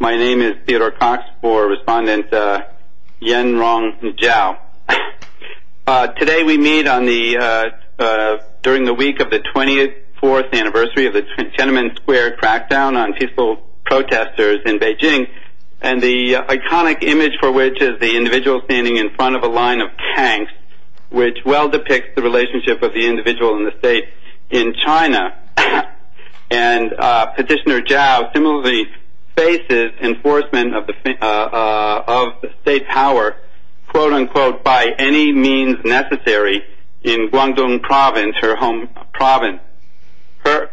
My name is Theodore Cox for Respondent Yen-Rong Zhao. Today we meet during the week of the 24th anniversary of the Tiananmen Square crackdown on peaceful protesters in Beijing and the iconic image for which is the individual standing in front of a line of tanks which well depicts the enforcement of the state power, quote-unquote, by any means necessary in Guangdong Province, her home province. Her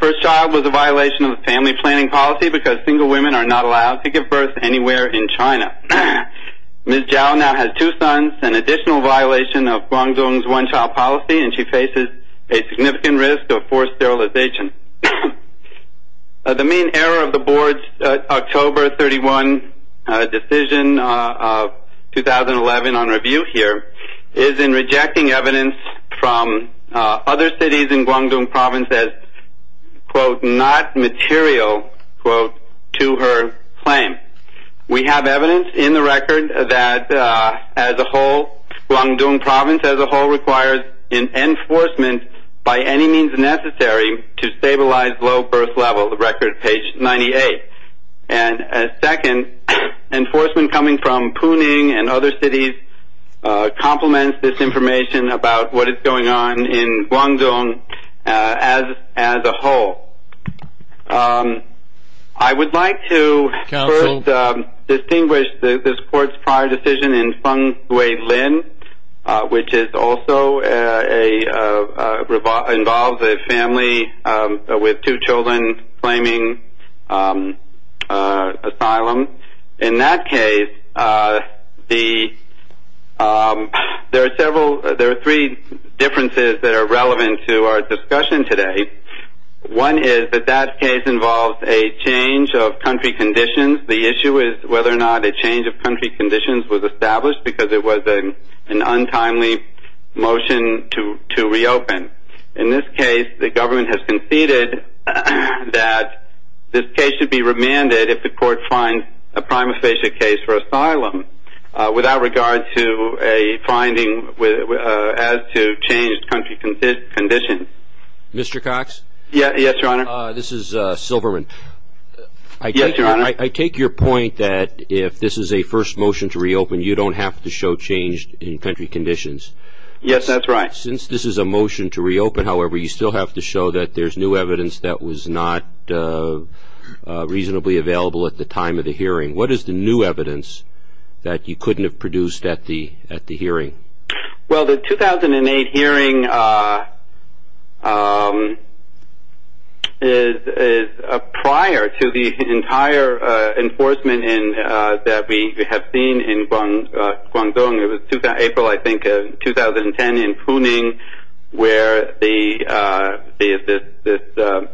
first child was a violation of the family planning policy because single women are not allowed to give birth anywhere in China. Ms. Zhao now has two sons, an additional violation of Guangdong's one-child policy, and she faces a significant risk of forced sterilization. The main error of the Board's October 31 decision of 2011 on review here is in rejecting evidence from other cities in Guangdong Province as, quote, not material, quote, to her claim. We have evidence in the record that as a whole, Guangdong Province as a whole requires an enforcement by any means necessary to stabilize low birth level, the record page 98. And second, enforcement coming from Puning and other cities complements this information about what is going on in Guangdong as a whole. I would like to first distinguish this Court's prior decision in Feng Guilin, which also involves a family with two children claiming asylum. In that case, there are three differences that are relevant to our discussion today. One is that that case involves a change of country conditions. The issue is whether or not a change of country conditions was established because it was an untimely motion to reopen. In this case, the government has conceded that this case should be remanded if the Court finds a prima facie case for asylum without regard to a finding as to changed country conditions. Mr. Cox? Yes, Your Honor. This is Silverman. Yes, Your Honor. I take your point that if this is a first motion to reopen, you don't have to show changed country conditions. Yes, that's right. Since this is a motion to reopen, however, you still have to show that there's new evidence that was not reasonably available at the time of the hearing. What is the new evidence that you couldn't have produced at the hearing? Well, the 2008 hearing is prior to the entire enforcement that we have seen in Guangdong. It was April, I think, 2010 in Puning where this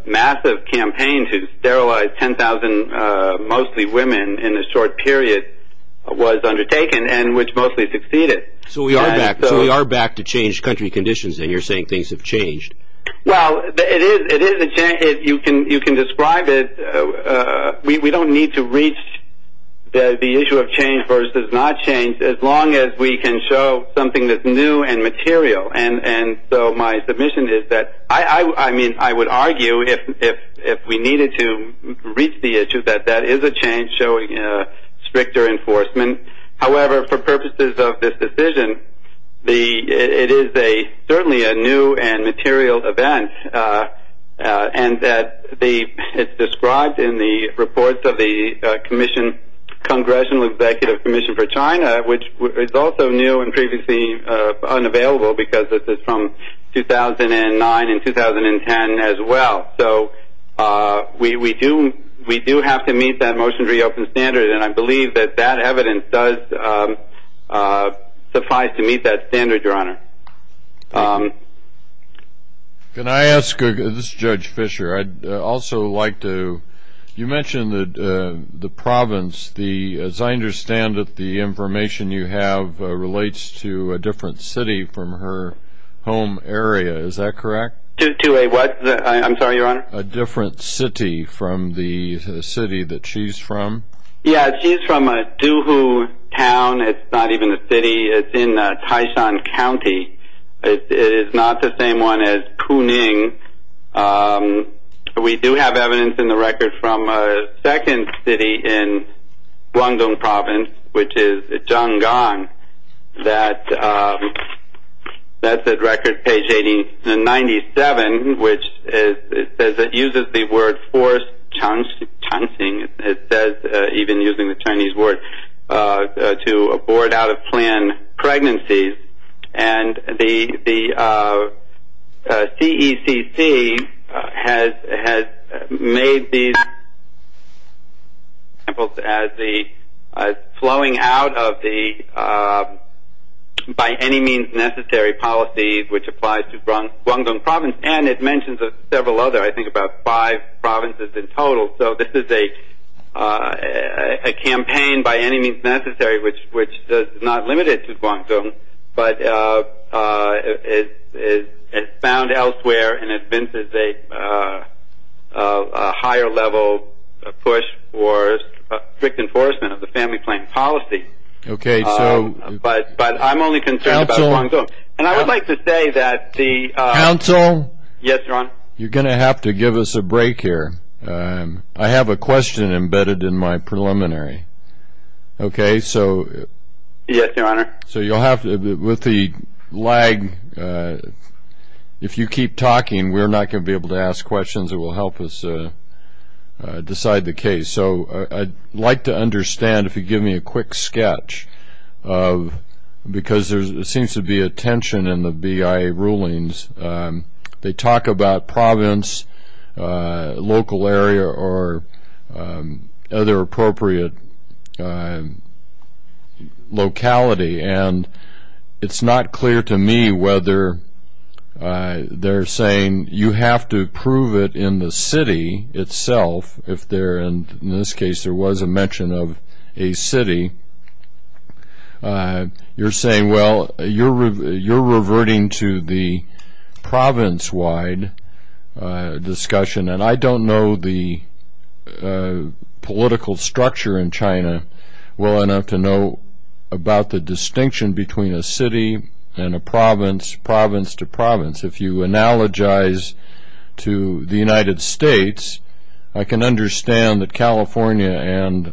massive campaign to sterilize 10,000 mostly women in a short period was undertaken and which mostly succeeded. So we are back to changed country conditions and you're saying things have changed. Well, it is a change. You can describe it. We don't need to reach the issue of change versus not change as long as we can show something that's new and material. And so my submission is that I would argue if we needed to reach the issue that that is a change showing stricter enforcement. However, for purposes of this decision, it is certainly a new and material event and that it's described in the reports of the Congressional Executive Commission for China, which is also new and previously unavailable because this is from 2009 and 2010 as well. So we do have to meet that motion to reopen standards, and I believe that that evidence does suffice to meet that standard, Your Honor. Can I ask, this is Judge Fischer, I'd also like to, you mentioned the province. As I understand it, the information you have relates to a different city from her home area. Is that correct? To a what? I'm sorry, Your Honor? A different city from the city that she's from. Yeah, she's from a Duhu town. It's not even a city. It's in Taishan County. It is not the same one as Kuning. We do have evidence in the record from a second city in Guangdong Province, which is Zhanggang. That's at record page 97, which it says it uses the word forced chancing. It says, even using the Chinese word, to abort out-of-plan pregnancies. And the CECC has made these examples as the flowing out of the by-any-means-necessary policies, which applies to Guangdong Province, and it mentions several other, I think about five provinces in total. So this is a campaign by any means necessary, which is not limited to Guangdong, but it's found elsewhere and advances a higher level push for strict enforcement of the family plan policy. But I'm only concerned about Guangdong. And I would like to say that the— Counsel? Yes, Your Honor? You're going to have to give us a break here. I have a question embedded in my preliminary. Okay, so— Yes, Your Honor? So you'll have to—with the lag, if you keep talking, we're not going to be able to ask questions that will help us decide the case. So I'd like to understand, if you give me a quick sketch of—because there seems to be a tension in the BIA rulings. They talk about province, local area, or other appropriate locality, and it's not clear to me whether they're saying you have to prove it in the city itself, if there—in this case, there was a mention of a city. You're saying, well, you're reverting to the province-wide discussion, and I don't know the political structure in China well enough to know about the distinction between a city and a province, province to province. If you analogize to the United States, I can understand that California and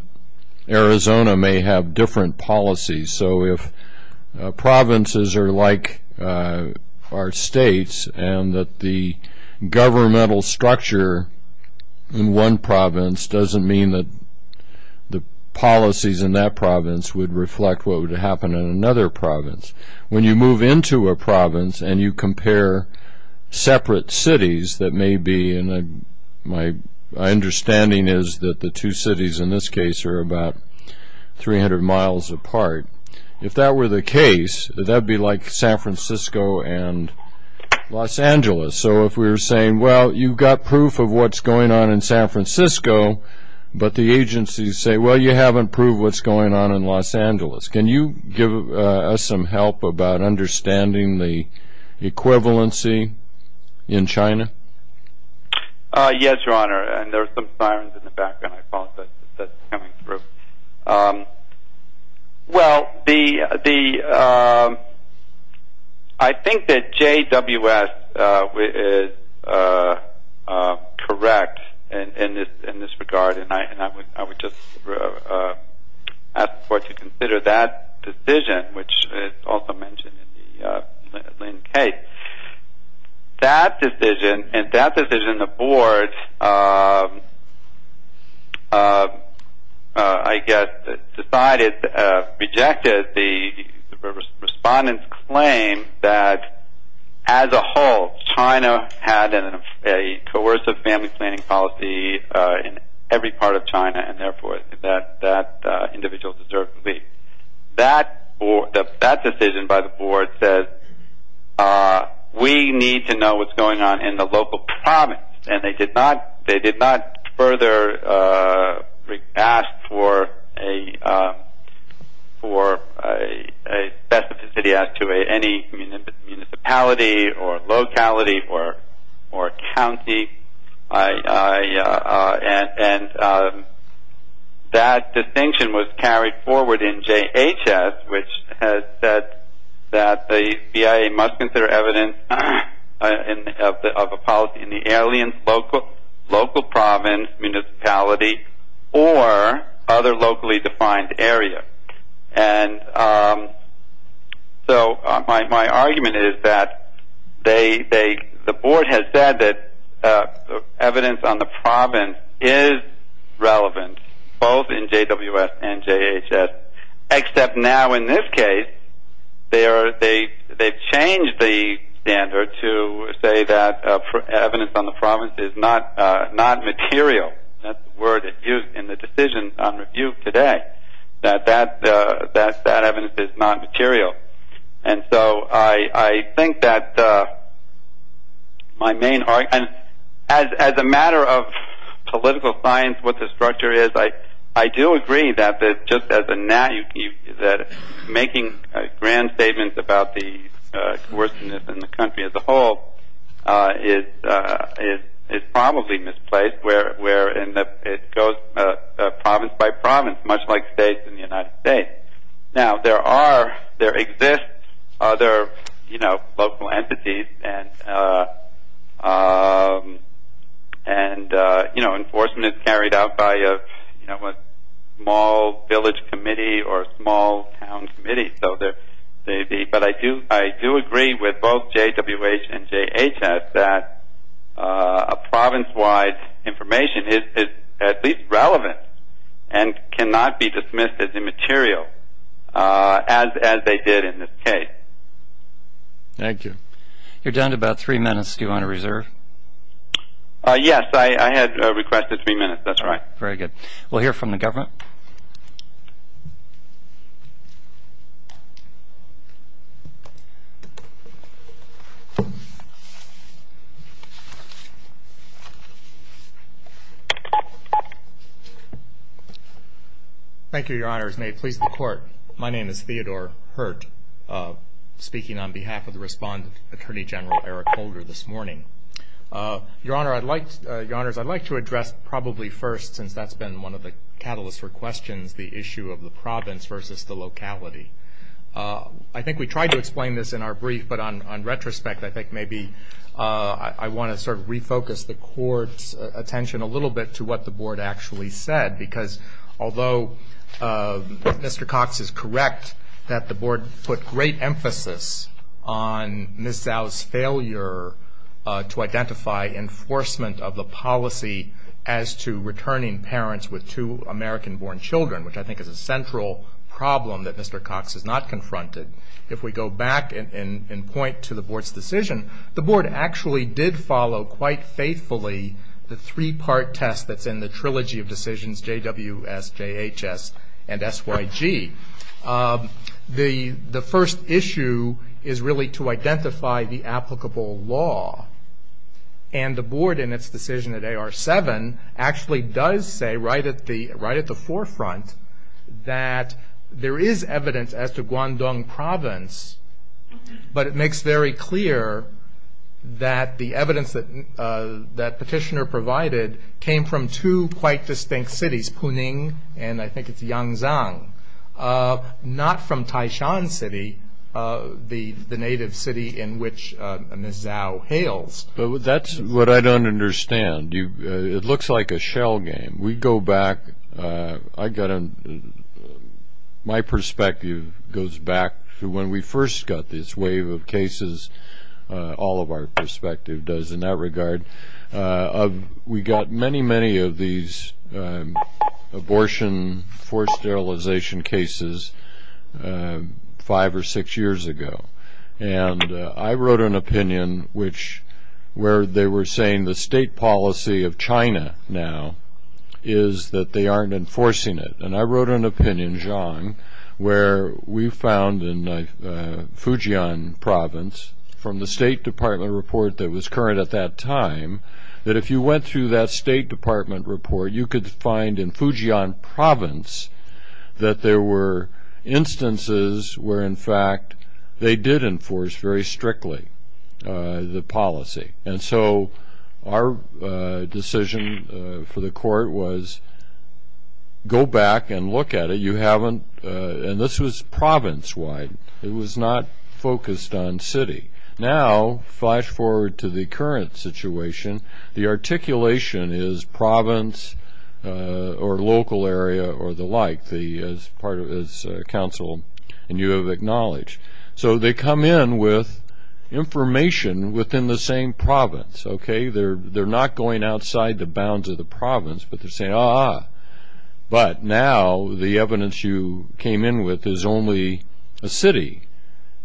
Arizona may have different policies. So if provinces are like our states and that the governmental structure in one province doesn't mean that the policies in that province would reflect what would happen in another province. When you move into a province and you compare separate cities that may be— and my understanding is that the two cities in this case are about 300 miles apart. If that were the case, that would be like San Francisco and Los Angeles. So if we were saying, well, you've got proof of what's going on in San Francisco, but the agencies say, well, you haven't proved what's going on in Los Angeles. Can you give us some help about understanding the equivalency in China? Yes, Your Honor, and there are some sirens in the background. I apologize if that's coming through. Well, I think that JWS is correct in this regard, and I would just ask the Court to consider that decision, which is also mentioned in the Lane case. That decision and that decision, the Board, I guess, decided, rejected the Respondent's claim that as a whole, China had a coercive family planning policy in every part of China, and therefore that individual deserved to leave. That decision by the Board says we need to know what's going on in the local province, and they did not further ask for a specificity to any municipality or locality or county, and that distinction was carried forward in JHS, which has said that the BIA must consider evidence of a policy in the alien local province, municipality, or other locally defined area. And so my argument is that the Board has said that evidence on the province is relevant, both in JWS and JHS, except now in this case they've changed the standard to say that evidence on the province is not material. That's the word used in the decision on review today, that that evidence is not material. And so I think that my main argument, as a matter of political science, what the structure is, I do agree that making grand statements about the coerciveness in the country as a whole is probably misplaced, where it goes province by province, much like states in the United States. Now, there are, there exist other local entities, and enforcement is carried out by a small village committee or a small town committee, but I do agree with both JWH and JHS that a province-wide information is at least relevant and cannot be dismissed as immaterial, as they did in this case. Thank you. You're down to about three minutes. Do you want to reserve? Yes. I had requested three minutes. That's right. Very good. We'll hear from the government. Thank you, Your Honors. May it please the Court, my name is Theodore Hurt, speaking on behalf of the respondent, Attorney General Eric Holder, this morning. Your Honors, I'd like to address probably first, since that's been one of the catalysts for questions, the issue of the province versus the locality. I think we tried to explain this in our brief, but on retrospect, I think maybe I want to sort of refocus the Court's attention a little bit to what the Board actually said, because although Mr. Cox is correct that the Board put great emphasis on Ms. Zhao's failure to identify enforcement of the policy as to returning parents with two American-born children, which I think is a central problem that Mr. Cox has not confronted. If we go back and point to the Board's decision, the Board actually did follow quite faithfully the three-part test that's in the trilogy of decisions, JWS, JHS, and SYG. The first issue is really to identify the applicable law, and the Board in its decision at AR-7 actually does say right at the forefront that there is evidence as to Guangdong Province, but it makes very clear that the evidence that Petitioner provided came from two quite distinct cities, Puning and I think it's Yangzhang, not from Taishan City, the native city in which Ms. Zhao hails. That's what I don't understand. It looks like a shell game. We go back. My perspective goes back to when we first got this wave of cases. All of our perspective does in that regard. We got many, many of these abortion forced sterilization cases five or six years ago. I wrote an opinion where they were saying the state policy of China now is that they aren't enforcing it. I wrote an opinion, Zhang, where we found in Fujian Province from the State Department report that was current at that time that if you went through that State Department report, you could find in Fujian Province that there were instances where, in fact, they did enforce very strictly the policy. And so our decision for the court was go back and look at it. You haven't, and this was province-wide. It was not focused on city. Now, flash forward to the current situation. The articulation is province or local area or the like as counsel and you have acknowledged. So they come in with information within the same province. They're not going outside the bounds of the province, but they're saying, ah, but now the evidence you came in with is only a city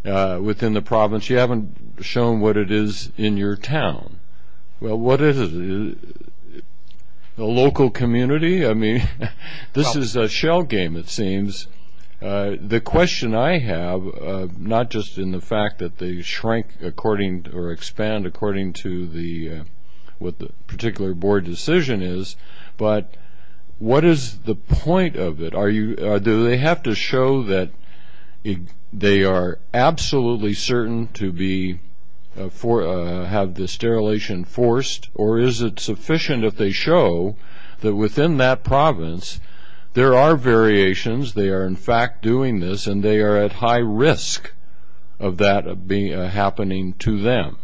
within the province. You haven't shown what it is in your town. Well, what is it? A local community? I mean, this is a shell game, it seems. The question I have, not just in the fact that they shrink according or expand according to what the particular board decision is, but what is the point of it? Do they have to show that they are absolutely certain to have the sterilization enforced, or is it sufficient if they show that within that province there are variations, they are, in fact, doing this, and they are at high risk of that happening to them?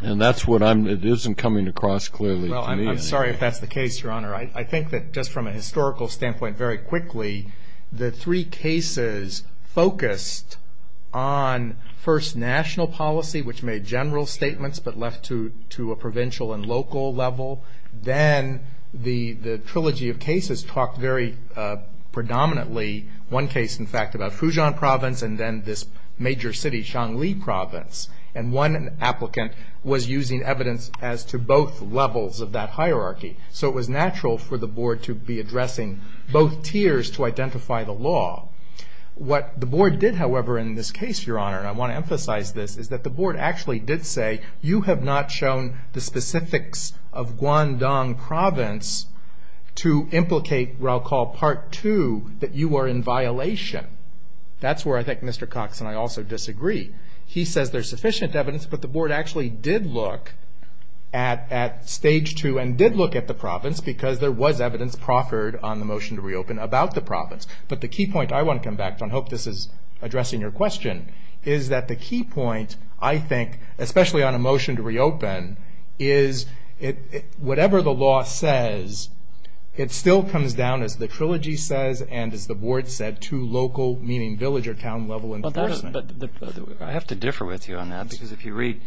And that's what I'm, it isn't coming across clearly to me. Well, I'm sorry if that's the case, Your Honor. I think that just from a historical standpoint, very quickly, the three cases focused on, first, national policy, which made general statements, but left to a provincial and local level. Then the trilogy of cases talked very predominantly, one case, in fact, about Fujian province, and then this major city, Xiangli province. And one applicant was using evidence as to both levels of that hierarchy. So it was natural for the board to be addressing both tiers to identify the law. What the board did, however, in this case, Your Honor, and I want to emphasize this, is that the board actually did say, you have not shown the specifics of Guangdong province to implicate what I'll call Part 2, that you are in violation. That's where I think Mr. Cox and I also disagree. He says there's sufficient evidence, but the board actually did look at Stage 2 and did look at the province because there was evidence proffered on the motion to reopen about the province. But the key point I want to come back to, and I hope this is addressing your question, is that the key point, I think, especially on a motion to reopen, is whatever the law says, it still comes down, as the trilogy says and as the board said, to local, meaning village or town-level enforcement. I have to differ with you on that because if you read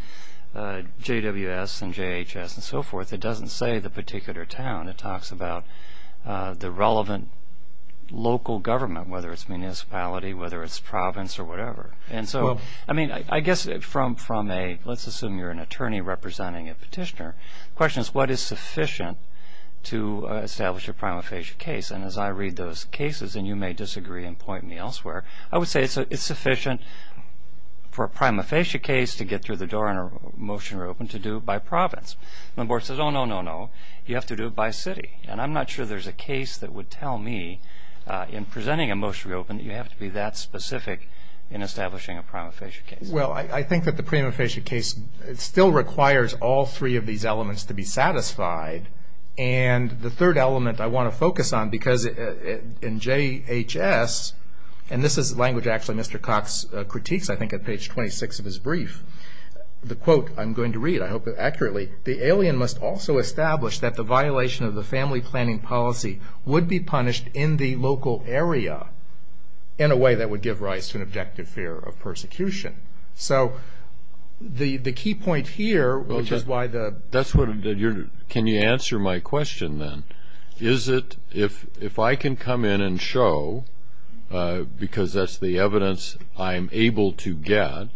JWS and JHS and so forth, it doesn't say the particular town. It talks about the relevant local government, whether it's municipality, whether it's province or whatever. I guess from a, let's assume you're an attorney representing a petitioner, the question is what is sufficient to establish a prima facie case? And as I read those cases, and you may disagree and point me elsewhere, I would say it's sufficient for a prima facie case to get through the door and a motion to reopen to do it by province. And the board says, oh, no, no, no, you have to do it by city. And I'm not sure there's a case that would tell me, in presenting a motion to reopen, that you have to be that specific in establishing a prima facie case. Well, I think that the prima facie case still requires all three of these elements to be satisfied. And the third element I want to focus on, because in JHS, and this is language actually Mr. Cox critiques, I think, at page 26 of his brief, the quote I'm going to read, I hope accurately, the alien must also establish that the violation of the family planning policy would be punished in the local area in a way that would give rise to an objective fear of persecution. So the key point here, which is why the- Can you answer my question then? If I can come in and show, because that's the evidence I'm able to get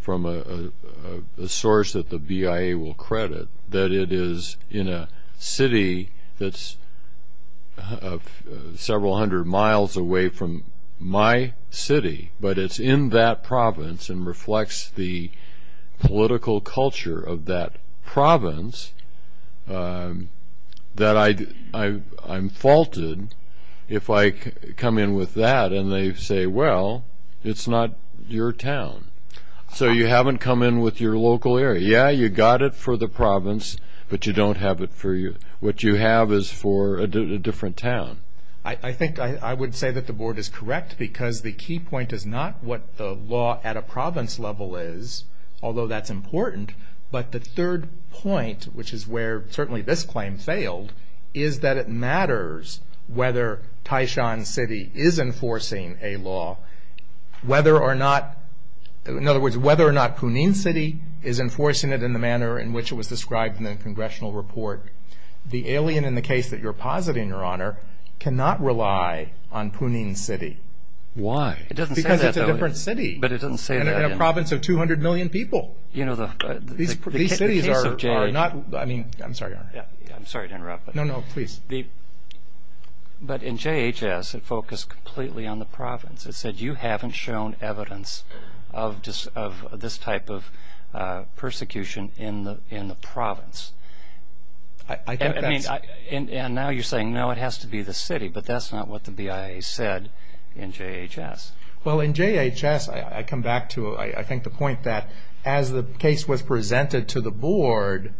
from a source that the BIA will credit, that it is in a city that's several hundred miles away from my city, but it's in that province and reflects the political culture of that province, that I'm faulted if I come in with that and they say, well, it's not your town. So you haven't come in with your local area. Yeah, you got it for the province, but you don't have it for- what you have is for a different town. I think I would say that the board is correct, because the key point is not what the law at a province level is, although that's important, but the third point, which is where certainly this claim failed, is that it matters whether Taishan City is enforcing a law, whether or not, in other words, whether or not Puning City is enforcing it in the manner in which it was described in the congressional report. The alien in the case that you're positing, Your Honor, cannot rely on Puning City. Why? Because it's a different city. But it doesn't say that. In a province of 200 million people. You know, the- These cities are not- I'm sorry, Your Honor. I'm sorry to interrupt. No, no, please. But in JHS, it focused completely on the province. It said you haven't shown evidence of this type of persecution in the province. I think that's- And now you're saying, no, it has to be the city, but that's not what the BIA said in JHS. Well, in JHS, I come back to, I think, the point that as the case was presented to the board,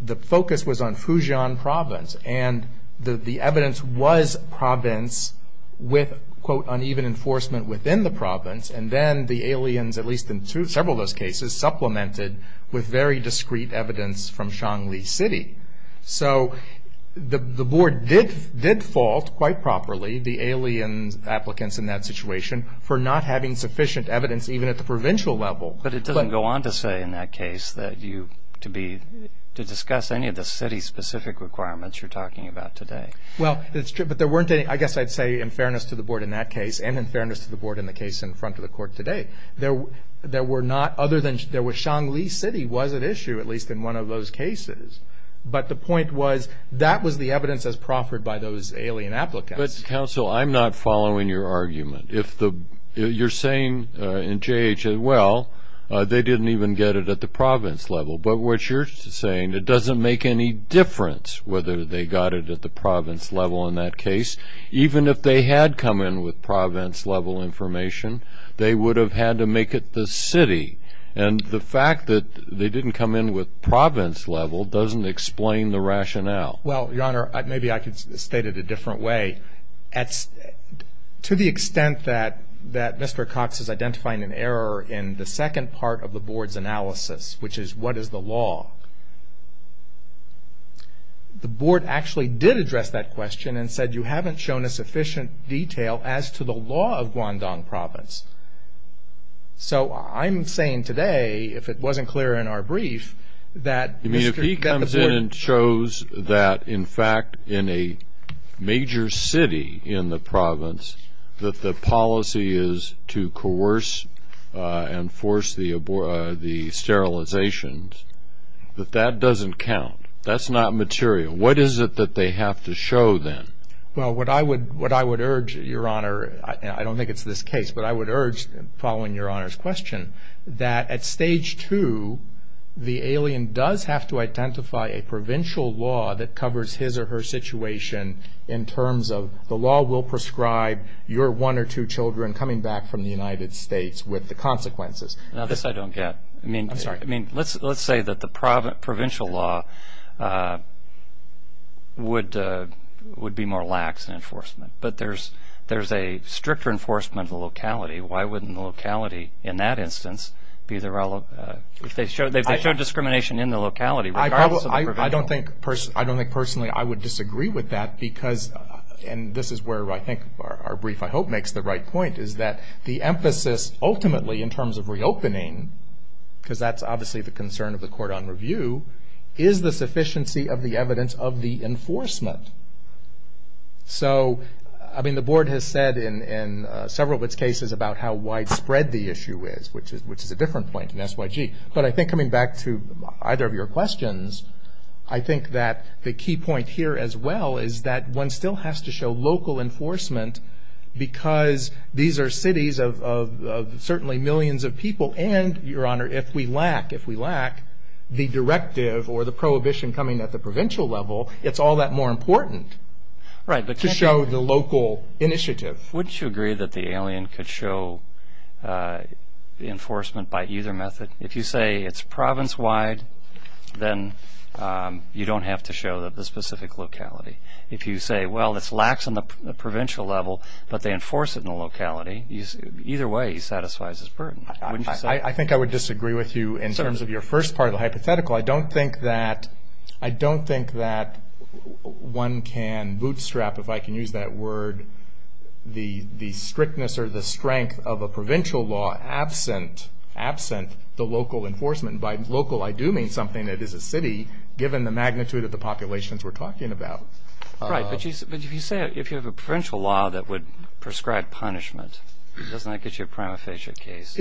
the focus was on Fujian Province. And the evidence was province with, quote, uneven enforcement within the province. And then the aliens, at least in several of those cases, supplemented with very discreet evidence from Xiangli City. So the board did fault, quite properly, the alien applicants in that situation for not having sufficient evidence even at the provincial level. But it doesn't go on to say in that case that you- to discuss any of the city-specific requirements you're talking about today. Well, it's true. But there weren't any, I guess I'd say, in fairness to the board in that case and in fairness to the board in the case in front of the court today. There were not other than- Xiangli City was at issue, at least in one of those cases. But the point was that was the evidence as proffered by those alien applicants. But, counsel, I'm not following your argument. If the-you're saying in JH that, well, they didn't even get it at the province level. But what you're saying, it doesn't make any difference whether they got it at the province level in that case. Even if they had come in with province-level information, they would have had to make it the city. And the fact that they didn't come in with province-level doesn't explain the rationale. Well, Your Honor, maybe I could state it a different way. To the extent that Mr. Cox is identifying an error in the second part of the board's analysis, which is what is the law, the board actually did address that question and said you haven't shown a sufficient detail as to the law of Guangdong Province. So I'm saying today, if it wasn't clear in our brief, that Mr.- The Times then shows that, in fact, in a major city in the province, that the policy is to coerce and force the sterilizations. But that doesn't count. That's not material. What is it that they have to show, then? Well, what I would urge, Your Honor, and I don't think it's this case, but I would urge, following Your Honor's question, that at stage two, the alien does have to identify a provincial law that covers his or her situation in terms of the law will prescribe your one or two children coming back from the United States with the consequences. Now, this I don't get. I'm sorry. I mean, let's say that the provincial law would be more lax in enforcement. But there's a stricter enforcement of locality. Why wouldn't locality, in that instance, be the relevant? They've shown discrimination in the locality regardless of the provincial law. I don't think personally I would disagree with that because, and this is where I think our brief, I hope, makes the right point, is that the emphasis ultimately in terms of reopening, because that's obviously the concern of the court on review, is the sufficiency of the evidence of the enforcement. So, I mean, the board has said in several of its cases about how widespread the issue is, which is a different point in SYG. But I think coming back to either of your questions, I think that the key point here as well is that one still has to show local enforcement because these are cities of certainly millions of people. And, Your Honor, if we lack the directive or the prohibition coming at the provincial level, it's all that more important to show the local initiative. Wouldn't you agree that the alien could show enforcement by either method? If you say it's province-wide, then you don't have to show the specific locality. If you say, well, it lacks on the provincial level, but they enforce it in the locality, either way it satisfies its burden. I think I would disagree with you in terms of your first part of the hypothetical. I don't think that one can bootstrap, if I can use that word, the strictness or the strength of a provincial law absent the local enforcement. And by local I do mean something that is a city, given the magnitude of the populations we're talking about. Right. But if you have a provincial law that would prescribe punishment, doesn't that get you a prima facie case?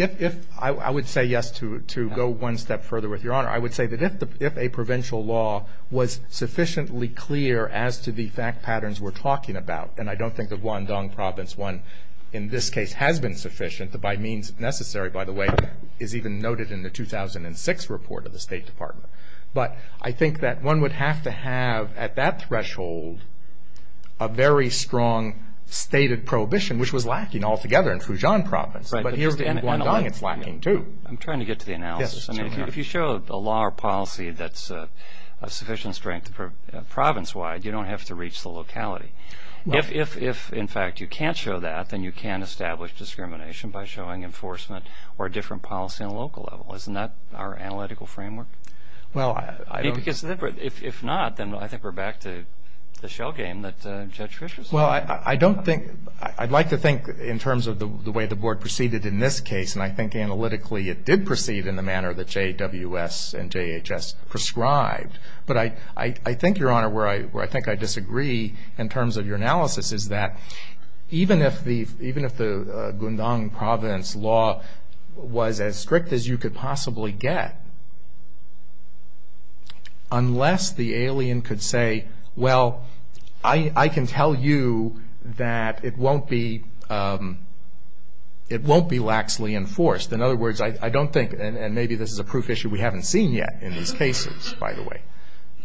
I would say yes to go one step further with Your Honor. I would say that if a provincial law was sufficiently clear as to the fact patterns we're talking about, and I don't think the Guangdong Province one in this case has been sufficient, by means necessary, by the way, is even noted in the 2006 report of the State Department. But I think that one would have to have at that threshold a very strong stated prohibition, which was lacking altogether in Fujian Province. But here in Guangdong it's lacking too. I'm trying to get to the analysis. If you show a law or policy that's of sufficient strength province-wide, you don't have to reach the locality. If, in fact, you can't show that, then you can establish discrimination by showing enforcement or a different policy on a local level. Isn't that our analytical framework? If not, then I think we're back to the shell game that Judge Fischer said. I'd like to think in terms of the way the Board proceeded in this case, and I think analytically it did proceed in the manner that JWS and JHS prescribed. But I think, Your Honor, where I think I disagree in terms of your analysis is that even if the Guangdong Province law was as strict as you could possibly get, unless the alien could say, Well, I can tell you that it won't be laxly enforced. In other words, I don't think, and maybe this is a proof issue we haven't seen yet in these cases, by the way,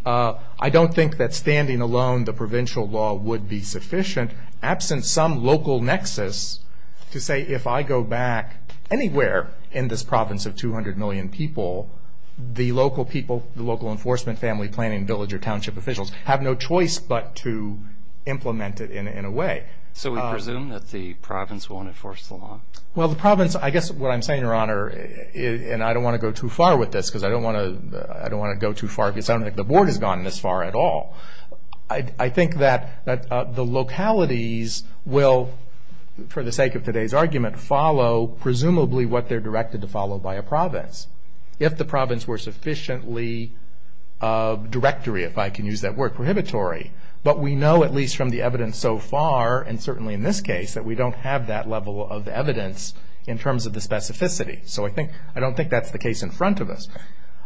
I don't think that standing alone the provincial law would be sufficient. Absent some local nexus to say, If I go back anywhere in this province of 200 million people, the local people, the local enforcement, family, planning, village, or township officials have no choice but to implement it in a way. So we presume that the province won't enforce the law? Well, the province, I guess what I'm saying, Your Honor, and I don't want to go too far with this because I don't want to go too far because I don't think the Board has gone this far at all. I think that the localities will, for the sake of today's argument, follow presumably what they're directed to follow by a province. If the province were sufficiently directory, if I can use that word, prohibitory. But we know, at least from the evidence so far, and certainly in this case, that we don't have that level of evidence in terms of the specificity. So I don't think that's the case in front of us.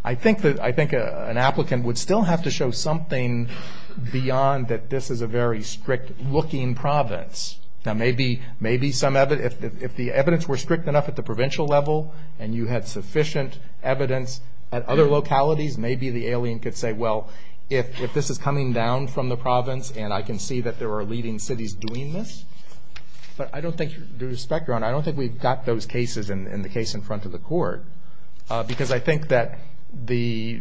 I think an applicant would still have to show something beyond that this is a very strict-looking province. Now, maybe some evidence, if the evidence were strict enough at the provincial level and you had sufficient evidence at other localities, maybe the alien could say, well, if this is coming down from the province and I can see that there are leading cities doing this. But I don't think, with respect, Your Honor, I don't think we've got those cases in the case in front of the court because I think that the,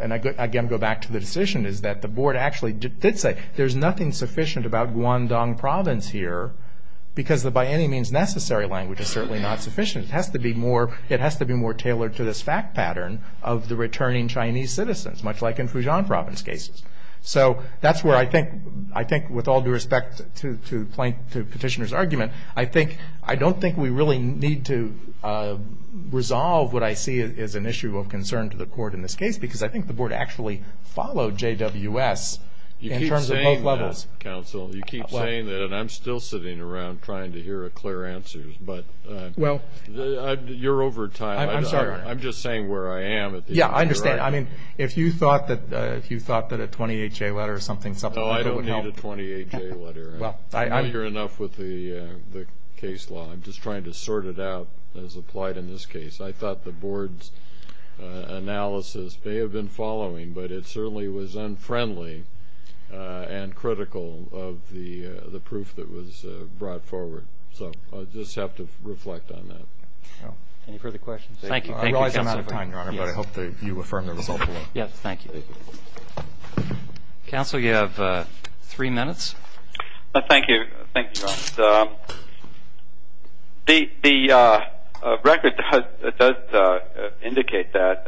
and I again go back to the decision, is that the board actually did say there's nothing sufficient about Guangdong province here because the by any means necessary language is certainly not sufficient. It has to be more tailored to this fact pattern of the returning Chinese citizens, much like in Fujian province cases. So that's where I think, with all due respect to Petitioner's argument, I don't think we really need to resolve what I see as an issue of concern to the court in this case because I think the board actually followed JWS in terms of both levels. You keep saying that, counsel. You keep saying that and I'm still sitting around trying to hear a clear answer. But you're over time. I'm sorry, Your Honor. I'm just saying where I am. Yeah, I understand. I mean, if you thought that a 28-J letter or something supplemental would help. No, I don't need a 28-J letter. I hear enough with the case law. I'm just trying to sort it out as applied in this case. I thought the board's analysis may have been following, but it certainly was unfriendly and critical of the proof that was brought forward. So I'll just have to reflect on that. Any further questions? Thank you. I realize I'm out of time, Your Honor, but I hope that you affirm the result. Yes, thank you. Counsel, you have three minutes. Thank you. Thank you, Your Honor. The record does indicate that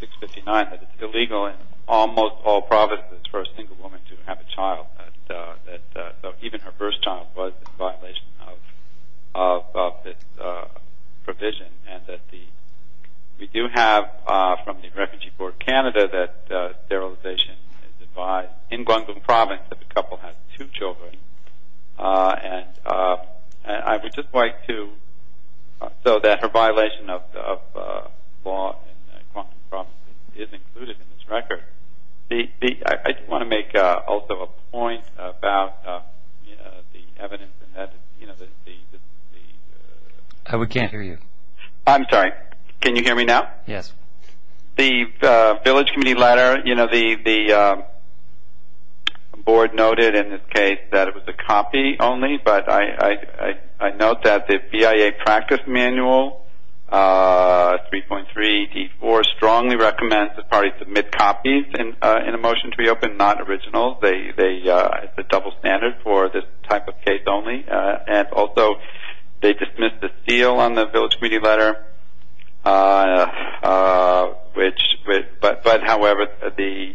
659, that it's illegal in almost all provinces for a single woman to have a child. So even her first child was in violation of this provision. We do have from the Refugee Board of Canada that sterilization is advised. In Guangdong Province, if a couple has two children. And I would just like to, so that her violation of law in Guangdong Province is included in this record. I want to make also a point about the evidence. We can't hear you. I'm sorry. Can you hear me now? Yes. The village committee letter, you know, the board noted in this case that it was a copy only, but I note that the BIA practice manual, 3.3D4, strongly recommends that parties submit copies in a motion to be opened, not originals. It's a double standard for this type of case only. And also they dismissed the seal on the village committee letter. But however, the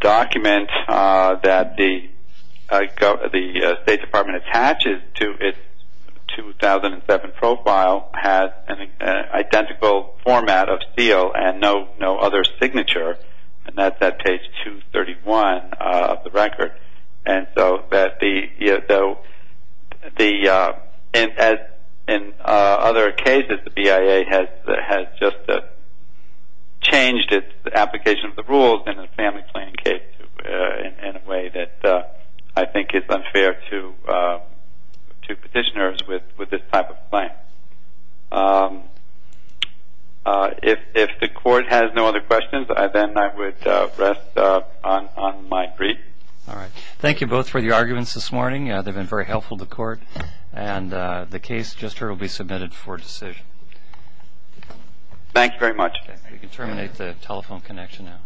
document that the State Department attaches to its 2007 profile has an identical format of seal and no other signature. And that's at page 231 of the record. And so in other cases, the BIA has just changed its application of the rules in a family planning case in a way that I think is unfair to petitioners with this type of claim. All right. If the Court has no other questions, then I would rest on my brief. All right. Thank you both for the arguments this morning. They've been very helpful to the Court. And the case just heard will be submitted for decision. Thank you very much. You can terminate the telephone connection now.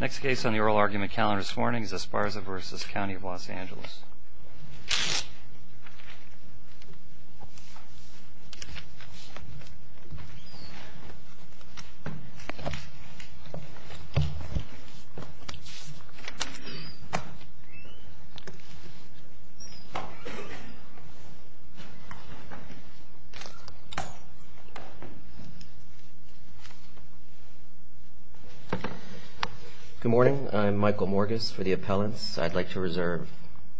Next case on the oral argument calendar this morning is Esparza v. County of Los Angeles. Good morning. I'm Michael Morgus for the appellants. I'd like to reserve.